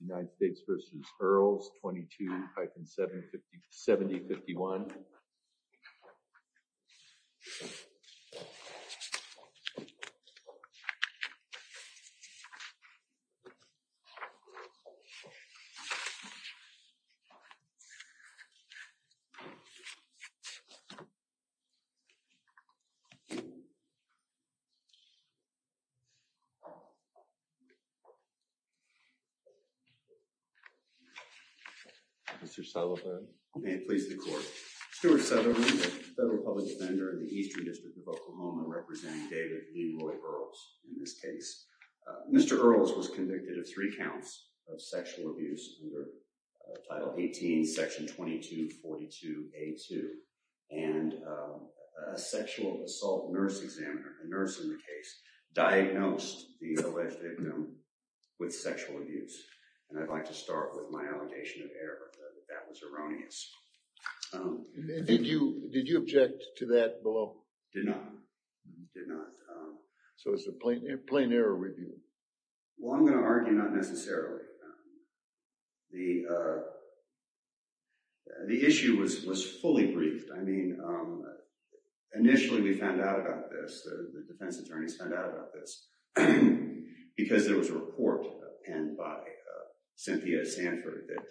United States v. Earls 22-7051. Mr. Sullivan. May it please the court. Stuart Sullivan, Federal Public Defender in the Eastern District of Oklahoma representing David Leroy Earls in this case. Mr. Earls was convicted of three counts of sexual abuse under Title 18, Section 22-42A-2. And a sexual assault nurse examiner, a nurse in the case, diagnosed the alleged victim with sexual abuse. And I'd like to start with my allegation of error, that that was erroneous. Did you object to that below? Did not. Did not. So it's a plain error review? Well, I'm going to argue not necessarily. The issue was fully briefed. I mean, initially we found out about this, the defense attorneys found out about this, because there was a report penned by Cynthia Sanford that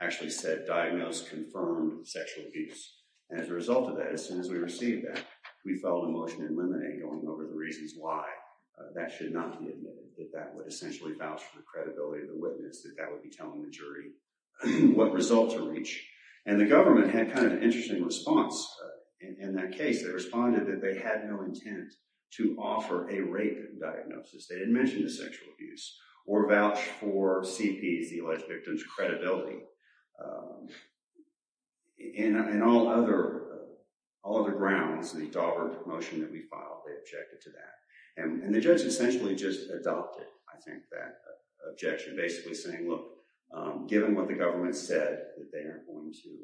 actually said diagnosed confirmed sexual abuse. And as a result of that, as soon as we received that, we filed a motion in limine going over the reasons why that should not be admitted. That that would essentially vouch for the credibility of the witness. That that would be telling the jury what result to reach. And the government had kind of an interesting response in that case. They responded that they had no intent to offer a rape diagnosis. They didn't mention the sexual abuse. Or vouch for CPs, the alleged victim's credibility. In all other grounds, the Daubert motion that we filed, they objected to that. And the judge essentially just adopted, I think, that objection. Basically saying, look, given what the government said, that they aren't going to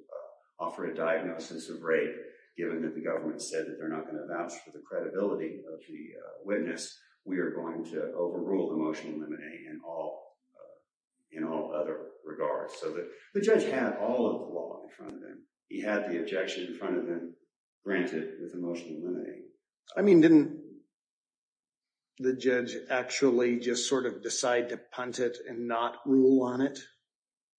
offer a diagnosis of rape, given that the government said that they're not going to vouch for the credibility of the witness, we are going to overrule the motion in limine in all other regards. So the judge had all of the law in front of him. He had the objection in front of him, granted with the motion in limine. I mean, didn't the judge actually just sort of decide to punt it and not rule on it?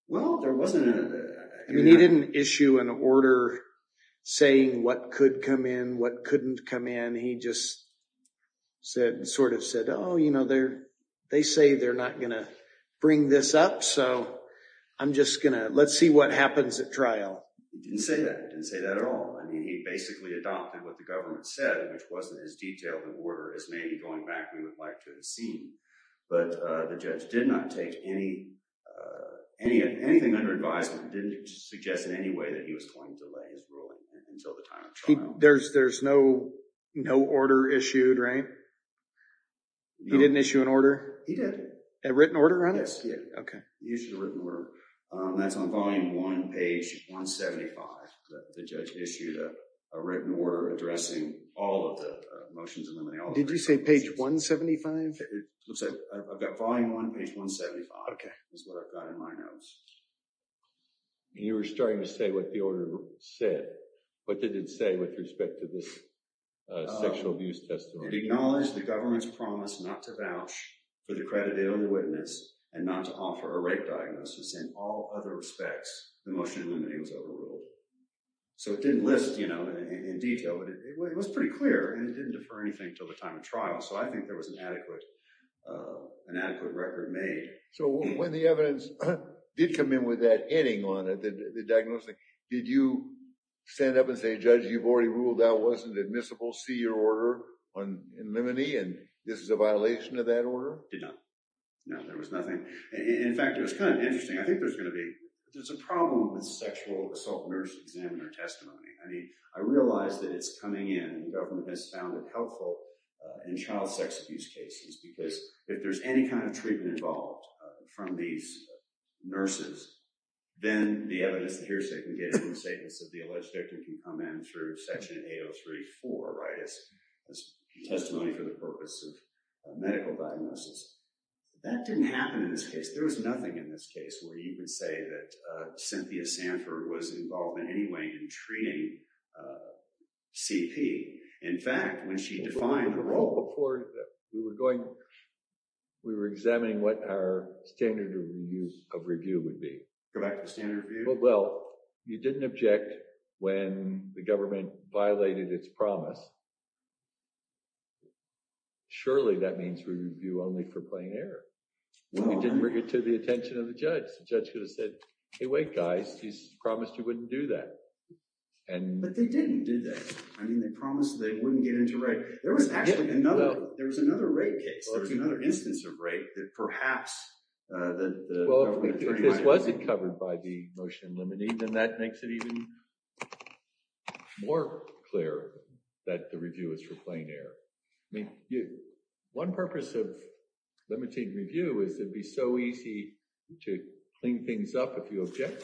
Well, there wasn't a... I mean, he didn't issue an order saying what could come in, what couldn't come in. He just said, sort of said, oh, you know, they say they're not going to bring this up. So I'm just going to let's see what happens at trial. He didn't say that. He didn't say that at all. I mean, he basically adopted what the government said, which wasn't as detailed an order as maybe going back we would like to have seen. But the judge did not take anything under advisement, didn't suggest in any way that he was going to delay his ruling until the time of trial. There's no order issued, right? He didn't issue an order? He did. A written order on it? Yes. He issued a written order. That's on volume one, page 175. The judge issued a written order addressing all of the motions in limine. Did you say page 175? It looks like I've got volume one, page 175 is what I've got in my notes. You were starting to say what the order said. What did it say with respect to this sexual abuse testimony? It acknowledged the government's promise not to vouch for the credit of the only witness and not to offer a rape diagnosis in all other respects. The motion in limine was overruled. So it didn't list in detail, but it was pretty clear and it didn't defer anything until the time of trial. So I think there was an adequate record made. So when the evidence did come in with that ending on it, the diagnosis, did you stand up and say, judge, you've already ruled that wasn't admissible, see your order in limine, and this is a violation of that order? Did not. No, there was nothing. In fact, it was kind of interesting. I think there's a problem with sexual assault nurse examiner testimony. I realize that it's coming in. The government has found it helpful in child sex abuse cases because if there's any kind of treatment involved from these nurses, then the evidence that hearsay can get in the statements of the alleged victim can come in through section 803.4 as testimony for the purpose of medical diagnosis. That didn't happen in this case. There was nothing in this case where you could say that Cynthia Sanford was involved in any way in treating CP. In fact, when she defined her role. Before we were going, we were examining what our standard of review would be. Go back to the standard review? Well, you didn't object when the government violated its promise. Surely that means review only for playing error. You didn't bring it to the attention of the judge. The judge could have said, hey, wait, guys, he's promised you wouldn't do that. But they didn't do that. I mean, they promised they wouldn't get into rape. There was actually another rape case. There was another instance of rape that perhaps the government attorney might have. This wasn't covered by the motion limiting. And that makes it even more clear that the review is for plain air. One purpose of limiting review is it'd be so easy to clean things up if you object.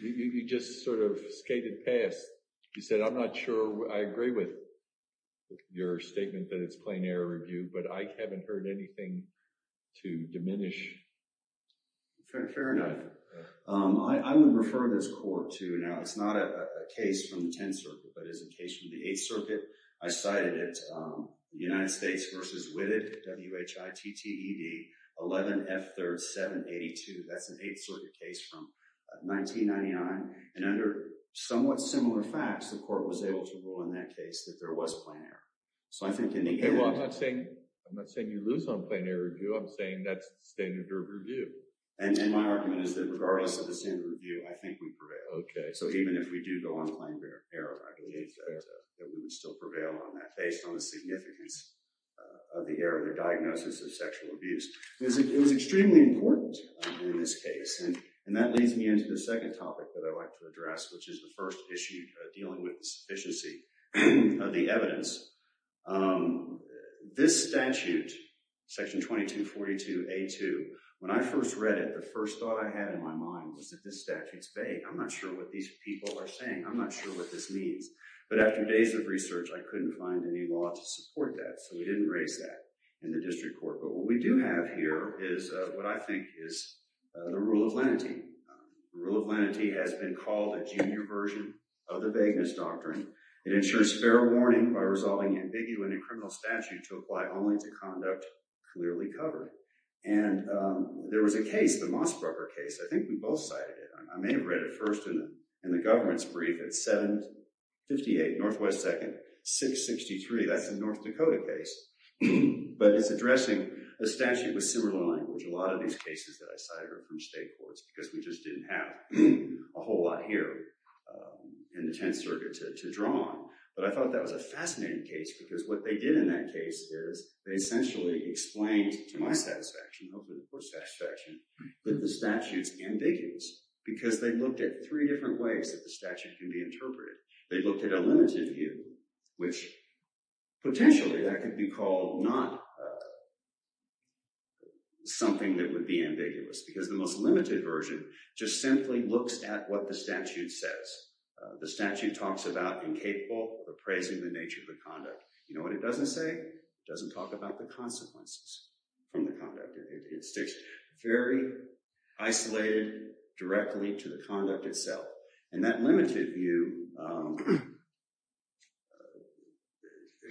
You just sort of skated past. You said, I'm not sure I agree with your statement that it's plain air review. But I haven't heard anything to diminish. Fair enough. I would refer this court to now. It's not a case from the 10th Circuit. But it is a case from the 8th Circuit. I cited it. The United States versus Whitted, W-H-I-T-T-E-D, 11 F-3rd 782. That's an 8th Circuit case from 1999. And under somewhat similar facts, the court was able to rule in that case that there was plain air. I'm not saying you lose on plain air review. I'm saying that's the standard of review. And my argument is that regardless of the standard of review, I think we prevail. OK. So even if we do go on plain air, I believe that we would still prevail on that, based on the significance of the error of the diagnosis of sexual abuse. It was extremely important in this case. And that leads me into the second topic that I'd like to address, which is the first issue dealing with the sufficiency of the evidence. This statute, Section 2242A2, when I first read it, the first thought I had in my mind was that this statute's vague. I'm not sure what these people are saying. I'm not sure what this means. But after days of research, I couldn't find any law to support that. So we didn't raise that in the district court. But what we do have here is what I think is the rule of lenity. The rule of lenity has been called a junior version of the vagueness doctrine. It ensures fair warning by resolving ambiguity in criminal statute to apply only to conduct clearly covered. And there was a case, the Mossbrugger case. I think we both cited it. I may have read it first in the government's brief. It's 758 Northwest 2nd, 663. That's a North Dakota case. But it's addressing a statute with similar language. A lot of these cases that I cited are from state courts because we just didn't have a whole lot here in the Tenth Circuit to draw on. But I thought that was a fascinating case because what they did in that case is they essentially explained to my satisfaction, hopefully the court's satisfaction, that the statute's ambiguous because they looked at three different ways that the statute can be interpreted. They looked at a limited view, which potentially that could be called not something that would be ambiguous because the most limited version just simply looks at what the statute says. The statute talks about incapable of appraising the nature of the conduct. You know what it doesn't say? It doesn't talk about the consequences from the conduct. It sticks very isolated directly to the conduct itself. And that limited view,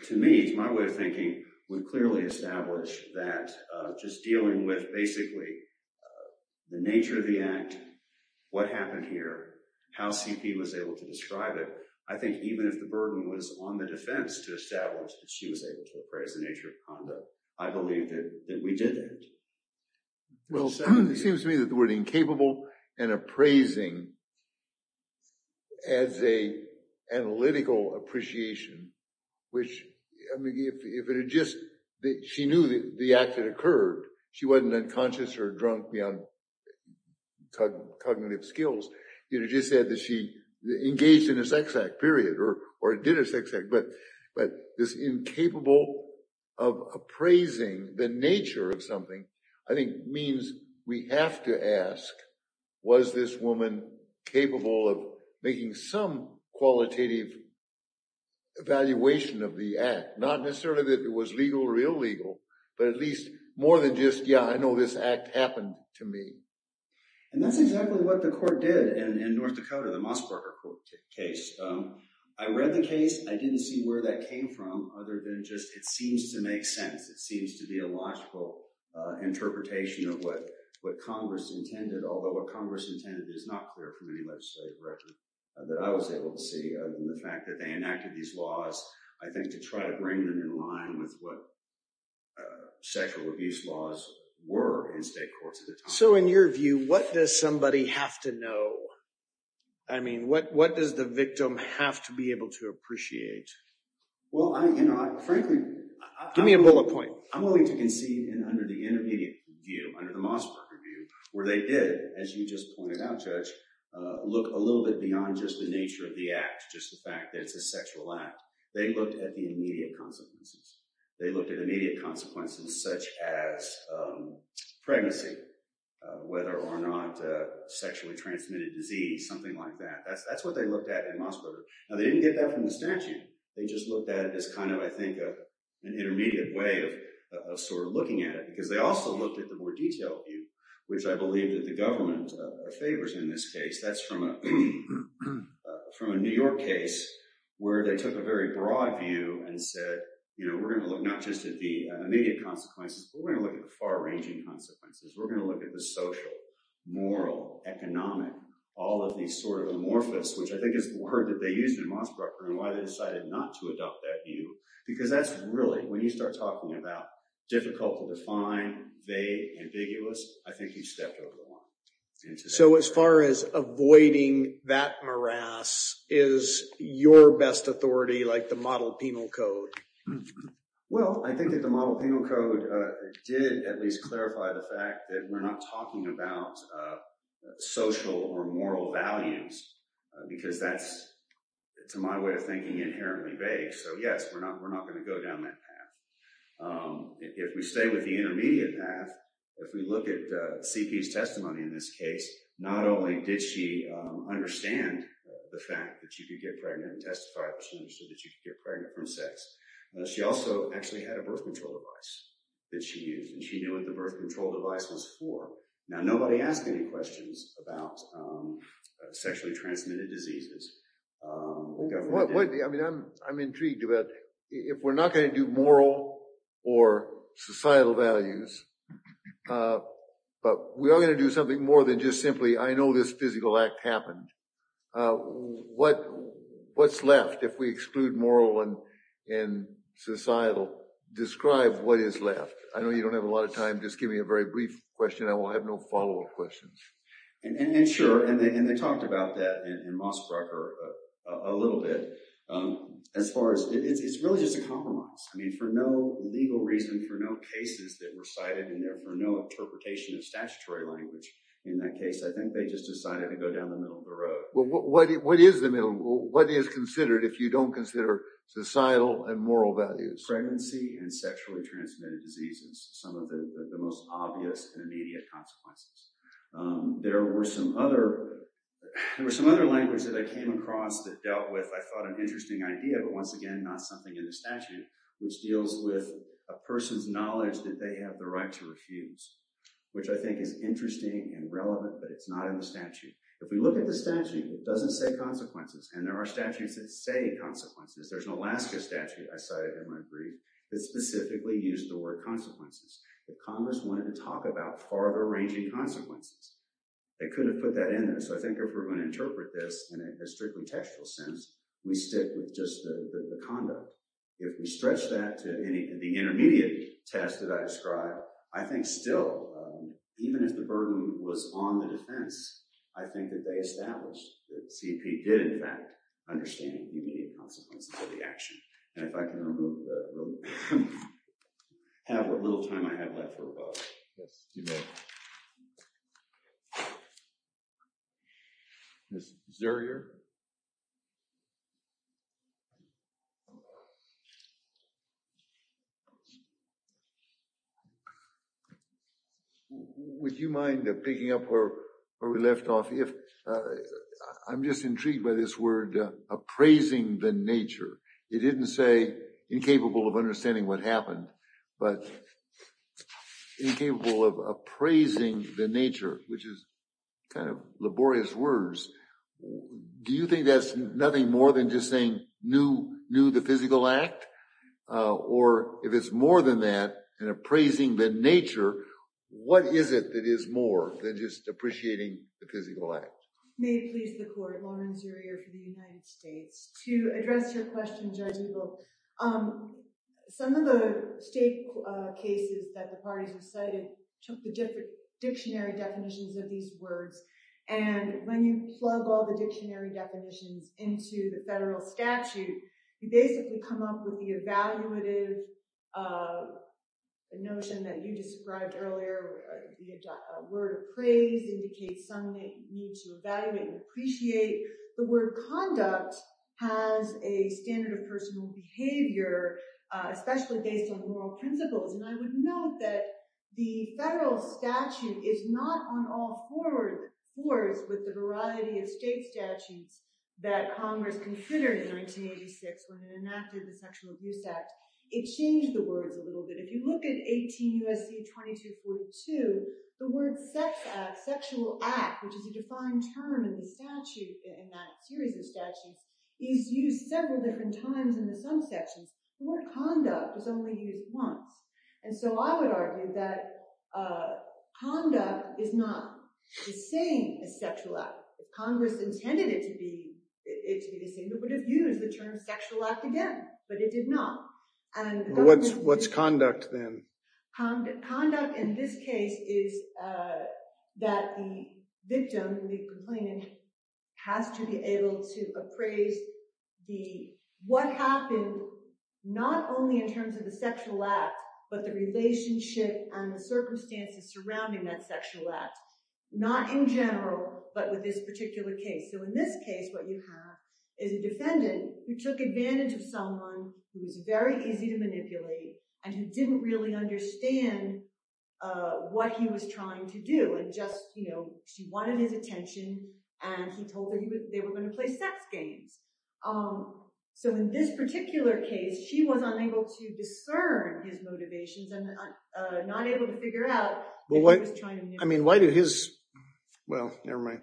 to me, it's my way of thinking, would clearly establish that just dealing with basically the nature of the act, what happened here, how CP was able to describe it, I think even if the burden was on the defense to establish that she was able to appraise the nature of conduct, I believe that we did it. Well, it seems to me that the word incapable and appraising adds an analytical appreciation, which if it had just, she knew the act had occurred. She wasn't unconscious or drunk beyond cognitive skills. It just said that she engaged in a sex act, period, or did a sex act, but this incapable of appraising the nature of something, I think means we have to ask, was this woman capable of making some qualitative evaluation of the act? Not necessarily that it was legal or illegal, but at least more than just, yeah, I know this act happened to me. And that's exactly what the court did in North Dakota, the Mosbacher case. I read the case. I didn't see where that came from, other than just it seems to make sense. It seems to be a logical interpretation of what Congress intended, although what Congress intended is not clear from any legislative record that I was able to see. And the fact that they enacted these laws, I think to try to bring them in line with what sexual abuse laws were in state courts at the time. So in your view, what does somebody have to know? I mean, what does the victim have to be able to appreciate? Well, you know, I frankly... Give me a bullet point. I'm willing to concede under the intermediate view, under the Mosbacher view, where they did, as you just pointed out, Judge, look a little bit beyond just the nature of the act, just the fact that it's a sexual act. They looked at the immediate consequences. They looked at immediate consequences such as pregnancy, whether or not sexually transmitted disease, something like that. That's what they looked at in Mosbacher. Now, they didn't get that from the statute. They just looked at it as kind of, I think, an intermediate way of sort of looking at it, because they also looked at the more detailed view, which I believe that the government favors in this case. That's from a New York case where they took a very broad view and said, you know, we're going to look not just at the immediate consequences, but we're going to look at the far-ranging consequences. We're going to look at the social, moral, economic, all of these sort of amorphous, which I think is the word that they used in Mosbacher and why they decided not to adopt that view, because that's really, when you start talking about difficult to define, vague, ambiguous, I think you've stepped over the line. So as far as avoiding that morass, is your best authority like the model penal code? Well, I think that the model penal code did at least clarify the fact that we're not talking about social or moral values, because that's, to my way of thinking, inherently vague. So, yes, we're not going to go down that path. If we stay with the intermediate path, if we look at CP's testimony in this case, not only did she understand the fact that you could get pregnant and testify that she understood that you could get pregnant from sex, she also actually had a birth control device that she used, and she knew what the birth control device was for. Now, nobody asked any questions about sexually transmitted diseases. I'm intrigued about, if we're not going to do moral or societal values, but we are going to do something more than just simply, I know this physical act happened. What's left if we exclude moral and societal? Describe what is left. I know you don't have a lot of time. Just give me a very brief question. I will have no follow-up questions. And sure, and they talked about that in Mossbroker a little bit. As far as, it's really just a compromise. I mean, for no legal reason, for no cases that were cited in there, for no interpretation of statutory language in that case, I think they just decided to go down the middle of the road. What is considered if you don't consider societal and moral values? Pregnancy and sexually transmitted diseases, some of the most obvious and immediate consequences. There were some other languages that I came across that dealt with, I thought an interesting idea, but once again, not something in the statute, which deals with a person's knowledge that they have the right to refuse, which I think is interesting and relevant, but it's not in the statute. If we look at the statute, it doesn't say consequences, and there are statutes that say consequences. There's an Alaska statute, I cited in my brief, that specifically used the word consequences. The Congress wanted to talk about far-reaching consequences. They couldn't have put that in there, so I think if we're going to interpret this in a strictly textual sense, we stick with just the conduct. If we stretch that to the intermediate test that I described, I think still, even if the burden was on the defense, I think that they established that the CEP did, in fact, understand the immediate consequences of the action. And if I can remove the little time I have left for rebuttal. Yes, you may. Ms. Zerrier? Would you mind picking up where we left off? I'm just intrigued by this word, appraising the nature. It didn't say incapable of understanding what happened, but incapable of appraising the nature, which is kind of laborious words. Do you think that's nothing more than just saying knew the physical act? Or if it's more than that, an appraising the nature, what is it that is more than just appreciating the physical act? May it please the court, Lauren Zerrier from the United States. To address your question, Judge Eagle, some of the state cases that the parties recited took the dictionary definitions of these words, and when you plug all the dictionary definitions into the federal statute, you basically come up with the evaluative notion that you described earlier. A word of praise indicates some need to evaluate and appreciate. The word conduct has a standard of personal behavior, especially based on moral principles. And I would note that the federal statute is not on all fours with the variety of state statutes that Congress considered in 1986 when it enacted the Sexual Abuse Act. It changed the words a little bit. If you look at 18 U.S.C. 2242, the word sex act, sexual act, which is a defined term in that series of statutes, is used several different times in some sections. The word conduct is only used once. And so I would argue that conduct is not the same as sexual act. If Congress intended it to be the same, it would have used the term sexual act again, but it did not. What's conduct then? Conduct in this case is that the victim, the complainant, has to be able to appraise what happened, not only in terms of the sexual act, but the relationship and the circumstances surrounding that sexual act, not in general, but with this particular case. So in this case, what you have is a defendant who took advantage of someone who was very easy to manipulate and who didn't really understand what he was trying to do. She wanted his attention, and he told her they were going to play sex games. So in this particular case, she was unable to discern his motivations and not able to figure out what he was trying to manipulate. Well, never mind.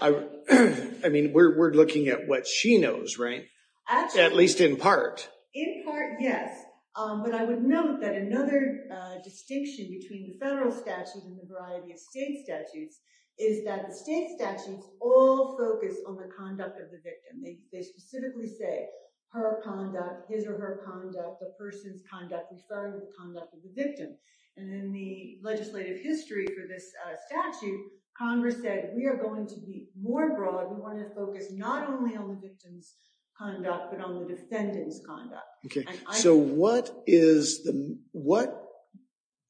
I mean, we're looking at what she knows, right? At least in part. In part, yes. But I would note that another distinction between the federal statutes and the variety of state statutes is that the state statutes all focus on the conduct of the victim. They specifically say her conduct, his or her conduct, the person's conduct as far as the conduct of the victim. And in the legislative history for this statute, Congress said we are going to be more broad. We want to focus not only on the victim's conduct, but on the defendant's conduct. Okay. So what is the, what,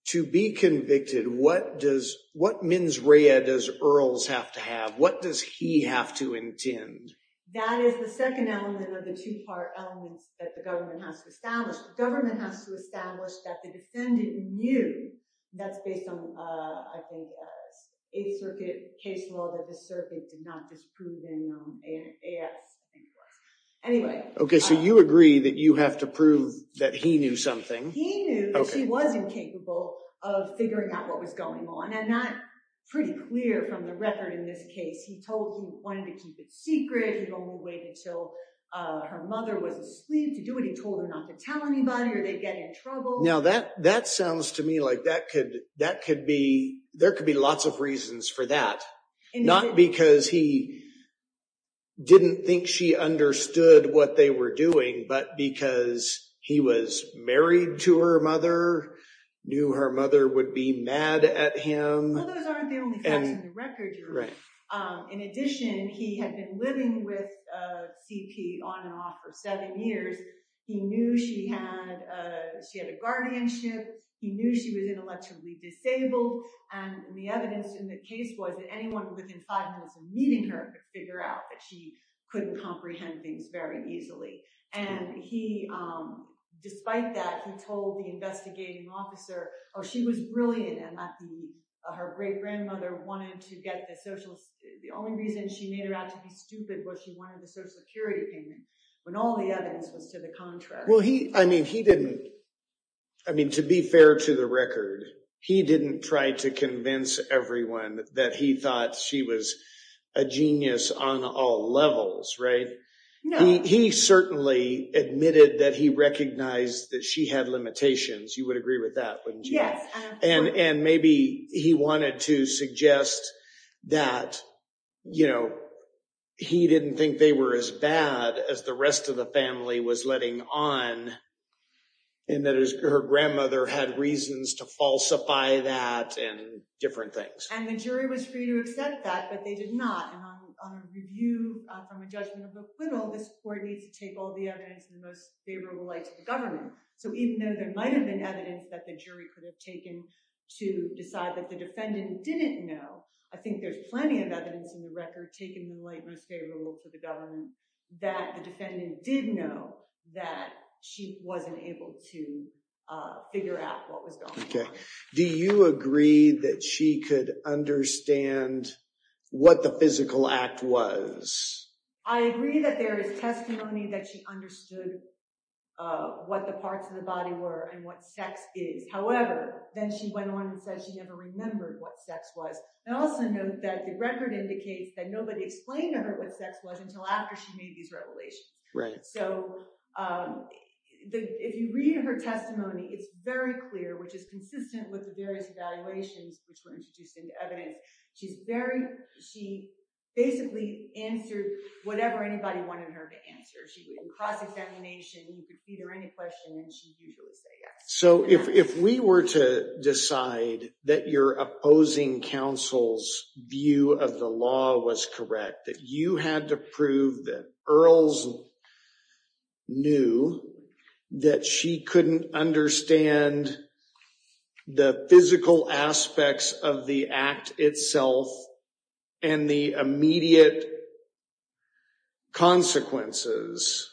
to be convicted, what does, what mens rea does Earls have to have? What does he have to intend? That is the second element of the two-part elements that the government has to establish. The government has to establish that the defendant knew, and that's based on, I think, Eighth Circuit case law that the circuit did not disprove in AS. Anyway. Okay, so you agree that you have to prove that he knew something. He knew that she wasn't capable of figuring out what was going on. And that's pretty clear from the record in this case. He told her he wanted to keep it secret. He told her to wait until her mother was asleep to do it. He told her not to tell anybody or they'd get in trouble. Now that, that sounds to me like that could, that could be, there could be lots of reasons for that. Not because he didn't think she understood what they were doing, but because he was married to her mother, knew her mother would be mad at him. Well those aren't the only facts in the record. Right. In addition, he had been living with a CP on and off for seven years. He knew she had, she had a guardianship. He knew she was intellectually disabled. And the evidence in the case was that anyone within five minutes of meeting her could figure out that she couldn't comprehend things very easily. And he, despite that, he told the investigating officer, oh, she was brilliant. And her great grandmother wanted to get the social, the only reason she made her out to be stupid was she wanted the social security payment. When all the evidence was to the contrast. Well, he, I mean, he didn't, I mean, to be fair to the record, he didn't try to convince everyone that he thought she was a genius on all levels. Right. He certainly admitted that he recognized that she had limitations. You would agree with that. And, and maybe he wanted to suggest that, you know, he didn't think they were as bad as the rest of the family was letting on. And that is her grandmother had reasons to falsify that and different things. And the jury was free to accept that, but they did not. And on a review from a judgment of acquittal, this court needs to take all the evidence in the most favorable light to the government. So even though there might've been evidence that the jury could have taken to decide that the defendant didn't know, I think there's plenty of evidence in the record, taking the light most favorable for the government that the defendant did know that she wasn't able to figure out what was going on. Okay. Do you agree that she could understand what the physical act was? I agree that there is testimony that she understood what the parts of the body were and what sex is. However, then she went on and said she never remembered what sex was. And also note that the record indicates that nobody explained to her what sex was until after she made these revelations. So if you read her testimony, it's very clear, which is consistent with the various evaluations, which were introduced into evidence. She's very, she basically answered whatever anybody wanted her to answer. She did cross-examination, you could feed her any question and she'd usually say yes. So if, if we were to decide that your opposing counsel's view of the law was correct, that you had to prove that Earls knew that she couldn't understand the physical aspects of the act itself and the immediate consequences,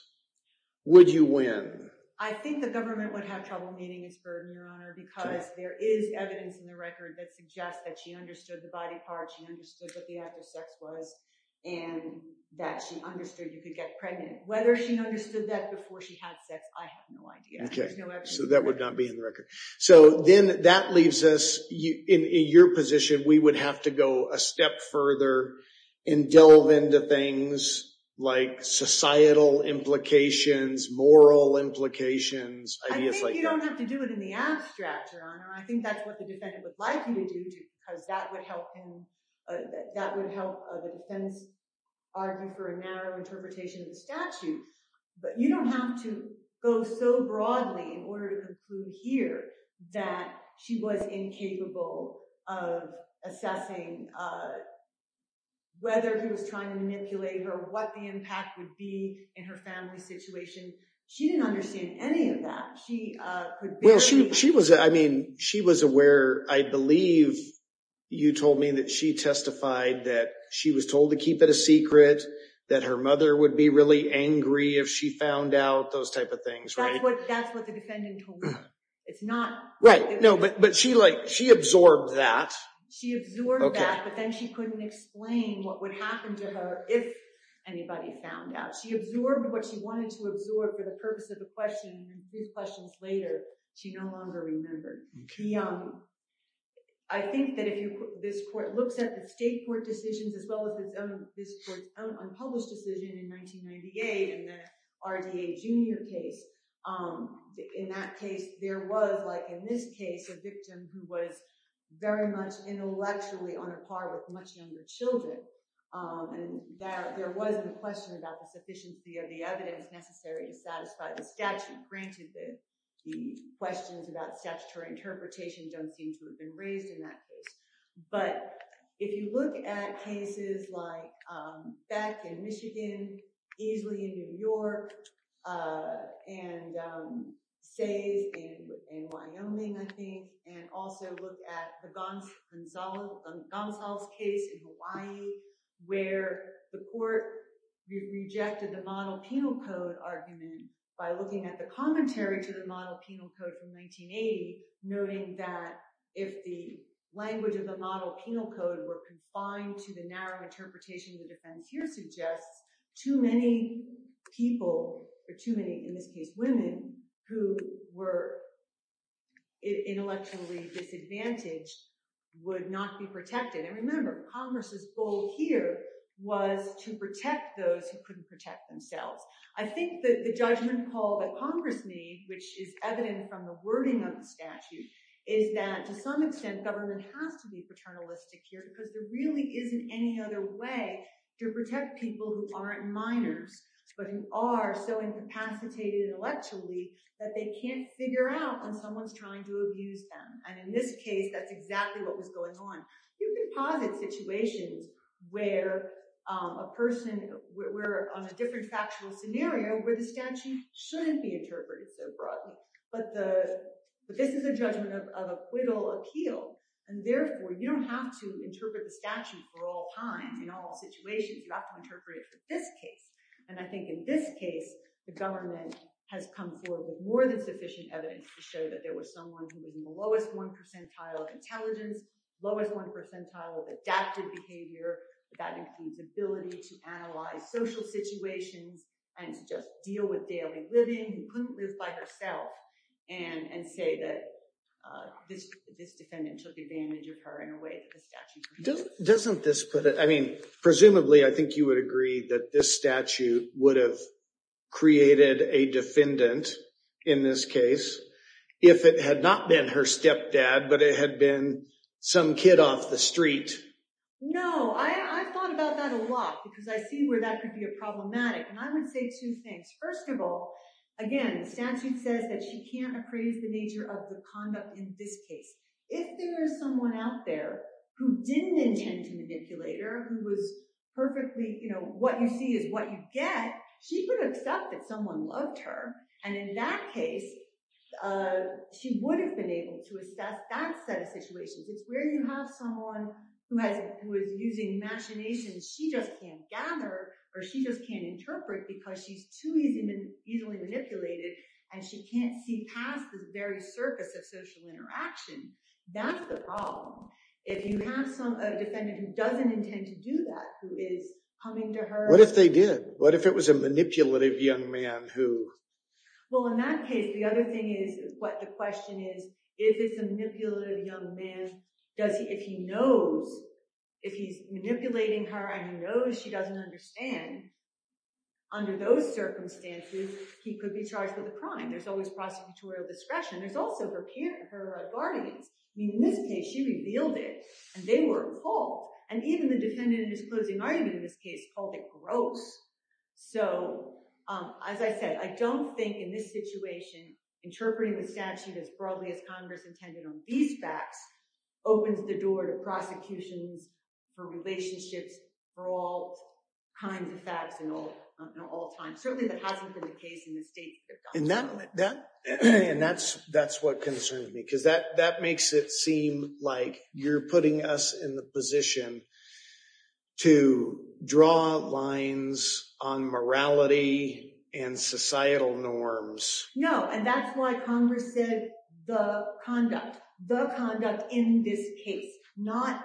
would you win? I think the government would have trouble meeting his burden, Your Honor, because there is evidence in the record that suggests that she understood the body parts. She understood what the act of sex was and that she understood you could get pregnant. Whether she understood that before she had sex, I have no idea. So that would not be in the record. So then that leaves us in your position, we would have to go a step further and delve into things like societal implications, moral implications, ideas like that. I think you don't have to do it in the abstract, Your Honor. I think that's what the defendant would like you to do because that would help him, that would help the defense argue for a narrow interpretation of the statute. But you don't have to go so broadly in order to conclude here that she was incapable of assessing whether he was trying to manipulate her, or what the impact would be in her family situation. She didn't understand any of that. She was aware, I believe, you told me that she testified that she was told to keep it a secret, that her mother would be really angry if she found out, those type of things, right? That's what the defendant told me. Right, but she absorbed that. She absorbed that, but then she couldn't explain what would happen to her if anybody found out. She absorbed what she wanted to absorb for the purpose of the question, and three questions later, she no longer remembered. I think that if this court looks at the state court decisions, as well as this court's own unpublished decision in 1998, in the RDA Junior case, in that case there was, like in this case, a victim who was very much intellectually on a par with much younger children, and there was a question about the sufficiency of the evidence necessary to satisfy the statute. Granted, the questions about statutory interpretation don't seem to have been raised in that case, but if you look at cases like Beck in Michigan, Easley in New York, and Says in Wyoming, and also look at the Gonzales case in Hawaii, where the court rejected the model penal code argument by looking at the commentary to the model penal code from 1980, noting that if the language of the model penal code were confined to the narrow interpretation the defense here suggests, too many people, or too many, in this case, women who were intellectually disadvantaged would not be protected. And remember, Congress's goal here was to protect those who couldn't protect themselves. I think that the judgment call that Congress made, which is evident from the wording of the statute, is that to some extent government has to be paternalistic here because there really isn't any other way to protect people who aren't minors, but who are so incapacitated intellectually that they can't figure out when someone's trying to abuse them. And in this case, that's exactly what was going on. You can posit situations where a person, where on a different factual scenario, where the statute shouldn't be interpreted so broadly, but this is a judgment of acquittal appeal. And therefore you don't have to interpret the statute for all times in all situations. You have to interpret it for this case. And I think in this case, the government has come forward with more than sufficient evidence to show that there was someone who was in the lowest one percentile of intelligence, lowest one percentile of adaptive behavior, that includes ability to analyze social situations and to just deal with daily living, who couldn't live by herself, and say that this defendant took advantage of her in a way that the statute prohibits. Doesn't this put it, I mean, this statute would have created a defendant in this case if it had not been her stepdad, but it had been some kid off the street. No. I thought about that a lot because I see where that could be a problematic. And I would say two things. First of all, again, statute says that she can't appraise the nature of the conduct in this case. If there is someone out there who didn't intend to manipulate her, who was perfectly, you know, what you see is what you get. She could accept that someone loved her. And in that case, she would have been able to assess that set of situations. It's where you have someone who has, who is using machinations. She just can't gather or she just can't interpret because she's too easily manipulated and she can't see past the very surface of social interaction. That's the problem. If you have some defendant who doesn't intend to do that, who is coming to her. What if they did? What if it was a manipulative young man who. Well, in that case, the other thing is what the question is, if it's a manipulative young man, does he, if he knows, if he's manipulating her and he knows she doesn't understand, under those circumstances, he could be charged with a crime. There's always prosecutorial discretion. There's also her guardians. I mean, in this case, she revealed it and they were appalled. And even the defendant in his closing argument in this case called it gross. So as I said, I don't think in this situation, interpreting the statute as broadly as Congress intended on these facts opens the door to prosecutions for relationships, for all kinds of facts in all times. Certainly that hasn't been the case in this state. And that's, that's what concerns me. Cause that, that makes it seem like you're putting us in the position. To draw lines on morality and societal norms. No. And that's why Congress said the conduct, the conduct in this case, not,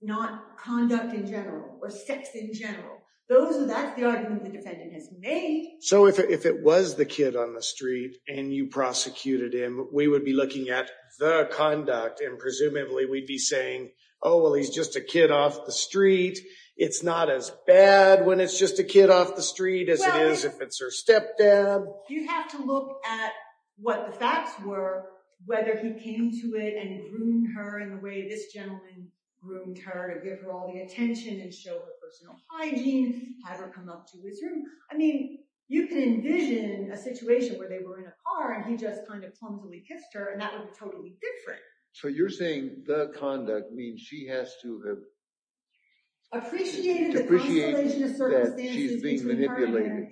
not conduct in general or sex in general. Those are, that's the argument the defendant has made. So if it was the kid on the street and you prosecuted him, we would be looking at the conduct and presumably we'd be saying, Oh, well, he's just a kid off the street. It's not as bad when it's just a kid off the street as it is, if it's her stepdad. You have to look at what the facts were, whether he came to it and groomed her in the way this gentleman groomed her to give her all the attention and show her personal hygiene, have her come up to his room. I mean, you can envision a situation where they were in a car and he just kind of clumsily kissed her and that was totally different. So you're saying the conduct means she has to have. Appreciated that she's being manipulated.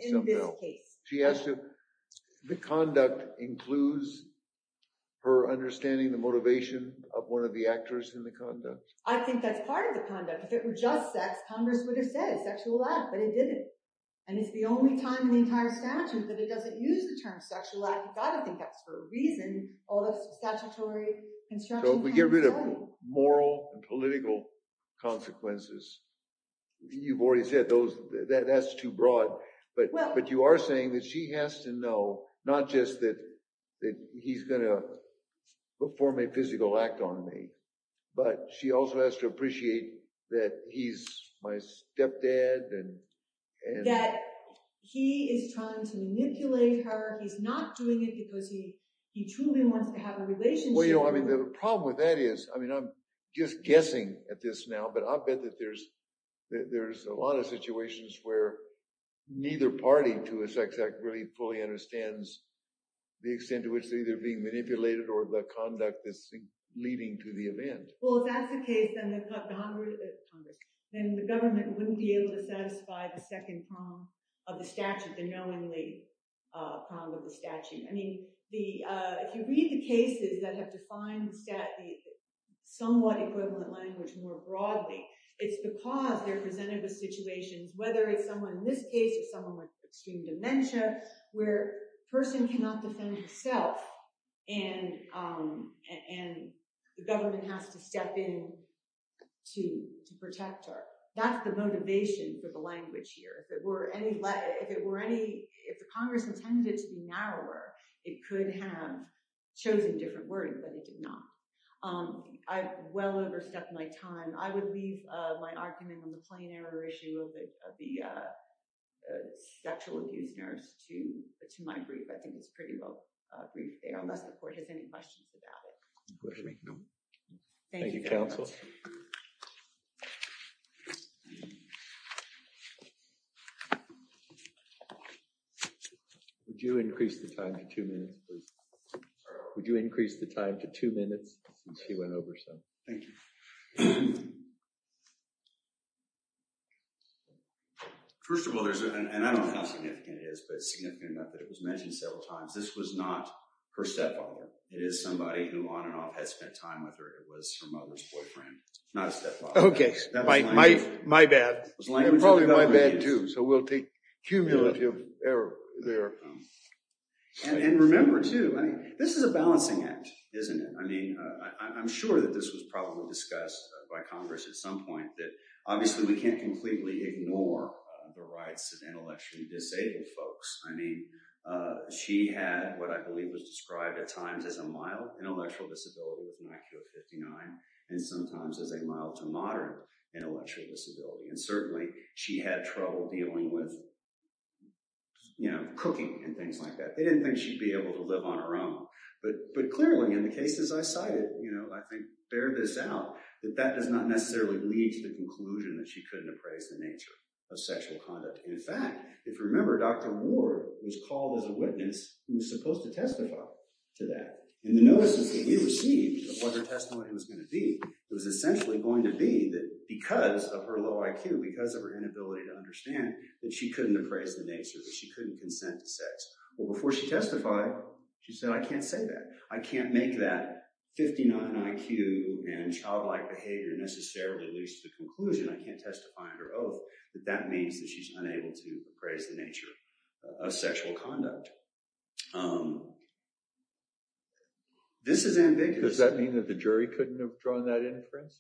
She has to, the conduct includes her understanding the motivation of one of the actors in the conduct. I think that's part of the conduct. If it were just sex, Congress would have said sexual life, but it didn't. And it's the only time in the entire statute, but it doesn't use the term sexual life. You've got to think that's for a reason. All the statutory construction, we get rid of moral and political consequences. You've already said those that that's too broad, but, but you are saying that she has to know, not just that he's going to perform a physical act on me, but she also has to appreciate that. He's my stepdad. He is trying to manipulate her. He's not doing it because he, he truly wants to have a relationship. I mean, the problem with that is, I mean, I'm just guessing at this now, but I bet that there's, that there's a lot of situations where neither party to a sex act really fully understands the extent to which they're either being manipulated or the event. Well, if that's the case, then the Congress, then the government wouldn't be able to satisfy the second column of the statute, the knowingly problem with the statute. I mean, the, if you read the cases that have defined stat, the somewhat equivalent language more broadly, it's the cause they're presented with situations, whether it's someone in this case or someone with extreme dementia, where person cannot defend himself and, and the government has to step in to protect her. That's the motivation for the language here. If it were any, if it were any, if the Congress intended to be narrower, it could have chosen different words, but it did not. I've well overstepped my time. I would leave my argument on the plain error issue of the, of the sexual abuse nurse to, to my brief. I think it was pretty well brief. Unless the court has any questions about thank you. Counsel. Would you increase the time to two minutes, would you increase the time to two minutes since she went over? So thank you. First of all, there's an, and I don't know how significant it is, but it's significant enough that it was mentioned several times. This was not her stepfather. It is somebody who on and off has spent time with her. It was her mother's boyfriend, not a stepfather. Okay. My, my, my bad. Probably my bad too. So we'll take cumulative error there. And remember too, I mean, this is a balancing act, isn't it? I mean, I'm sure that this was probably discussed by Congress at some point that obviously we can't completely ignore the rights of intellectually disabled folks. I mean, she had, what I believe was described at times as a mild intellectual disability with an IQ of 59 and sometimes as a mild to modern intellectual disability. And certainly she had trouble dealing with, you know, cooking and things like that. They didn't think she'd be able to live on her own, but, but clearly in the cases I cited, you know, I think bear this out that that does not necessarily lead to the conclusion that she couldn't appraise the nature of sexual conduct. And in fact, if you remember, Dr. Ward was called as a witness. He was supposed to testify to that. And the notices that he received of what her testimony was going to be, it was essentially going to be that because of her low IQ, because of her inability to understand that she couldn't appraise the nature that she couldn't consent to sex. Well, before she testified, she said, I can't say that I can't make that 59 IQ and childlike behavior necessarily leads to the conclusion. I can't testify under oath, that that means that she's unable to appraise the nature of sexual conduct. This is ambiguous. Does that mean that the jury couldn't have drawn that inference?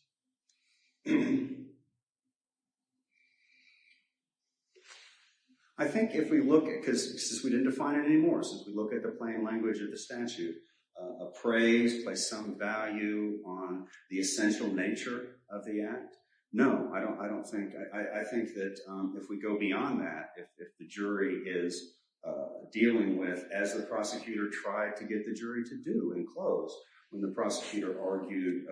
I think if we look at, because since we didn't define it anymore, since we look at the plain language of the statute, appraised by some value on the essential nature of the act. No, I don't, I don't think, I think that if we go beyond that, if the jury is dealing with, as the prosecutor tried to get the jury to do and close when the prosecutor argued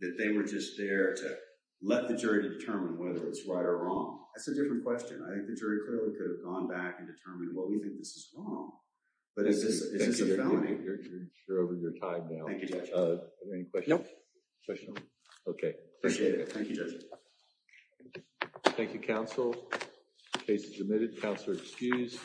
that they were just there to let the jury to determine whether it's right or wrong. That's a different question. I think the jury clearly could have gone back and determined what we think this is wrong, but it's just, it's just a felony. You're over your time now. Any questions? Okay. Thank you. Thank you. Thank you. Counsel. Case is admitted. Counselor. Excuse.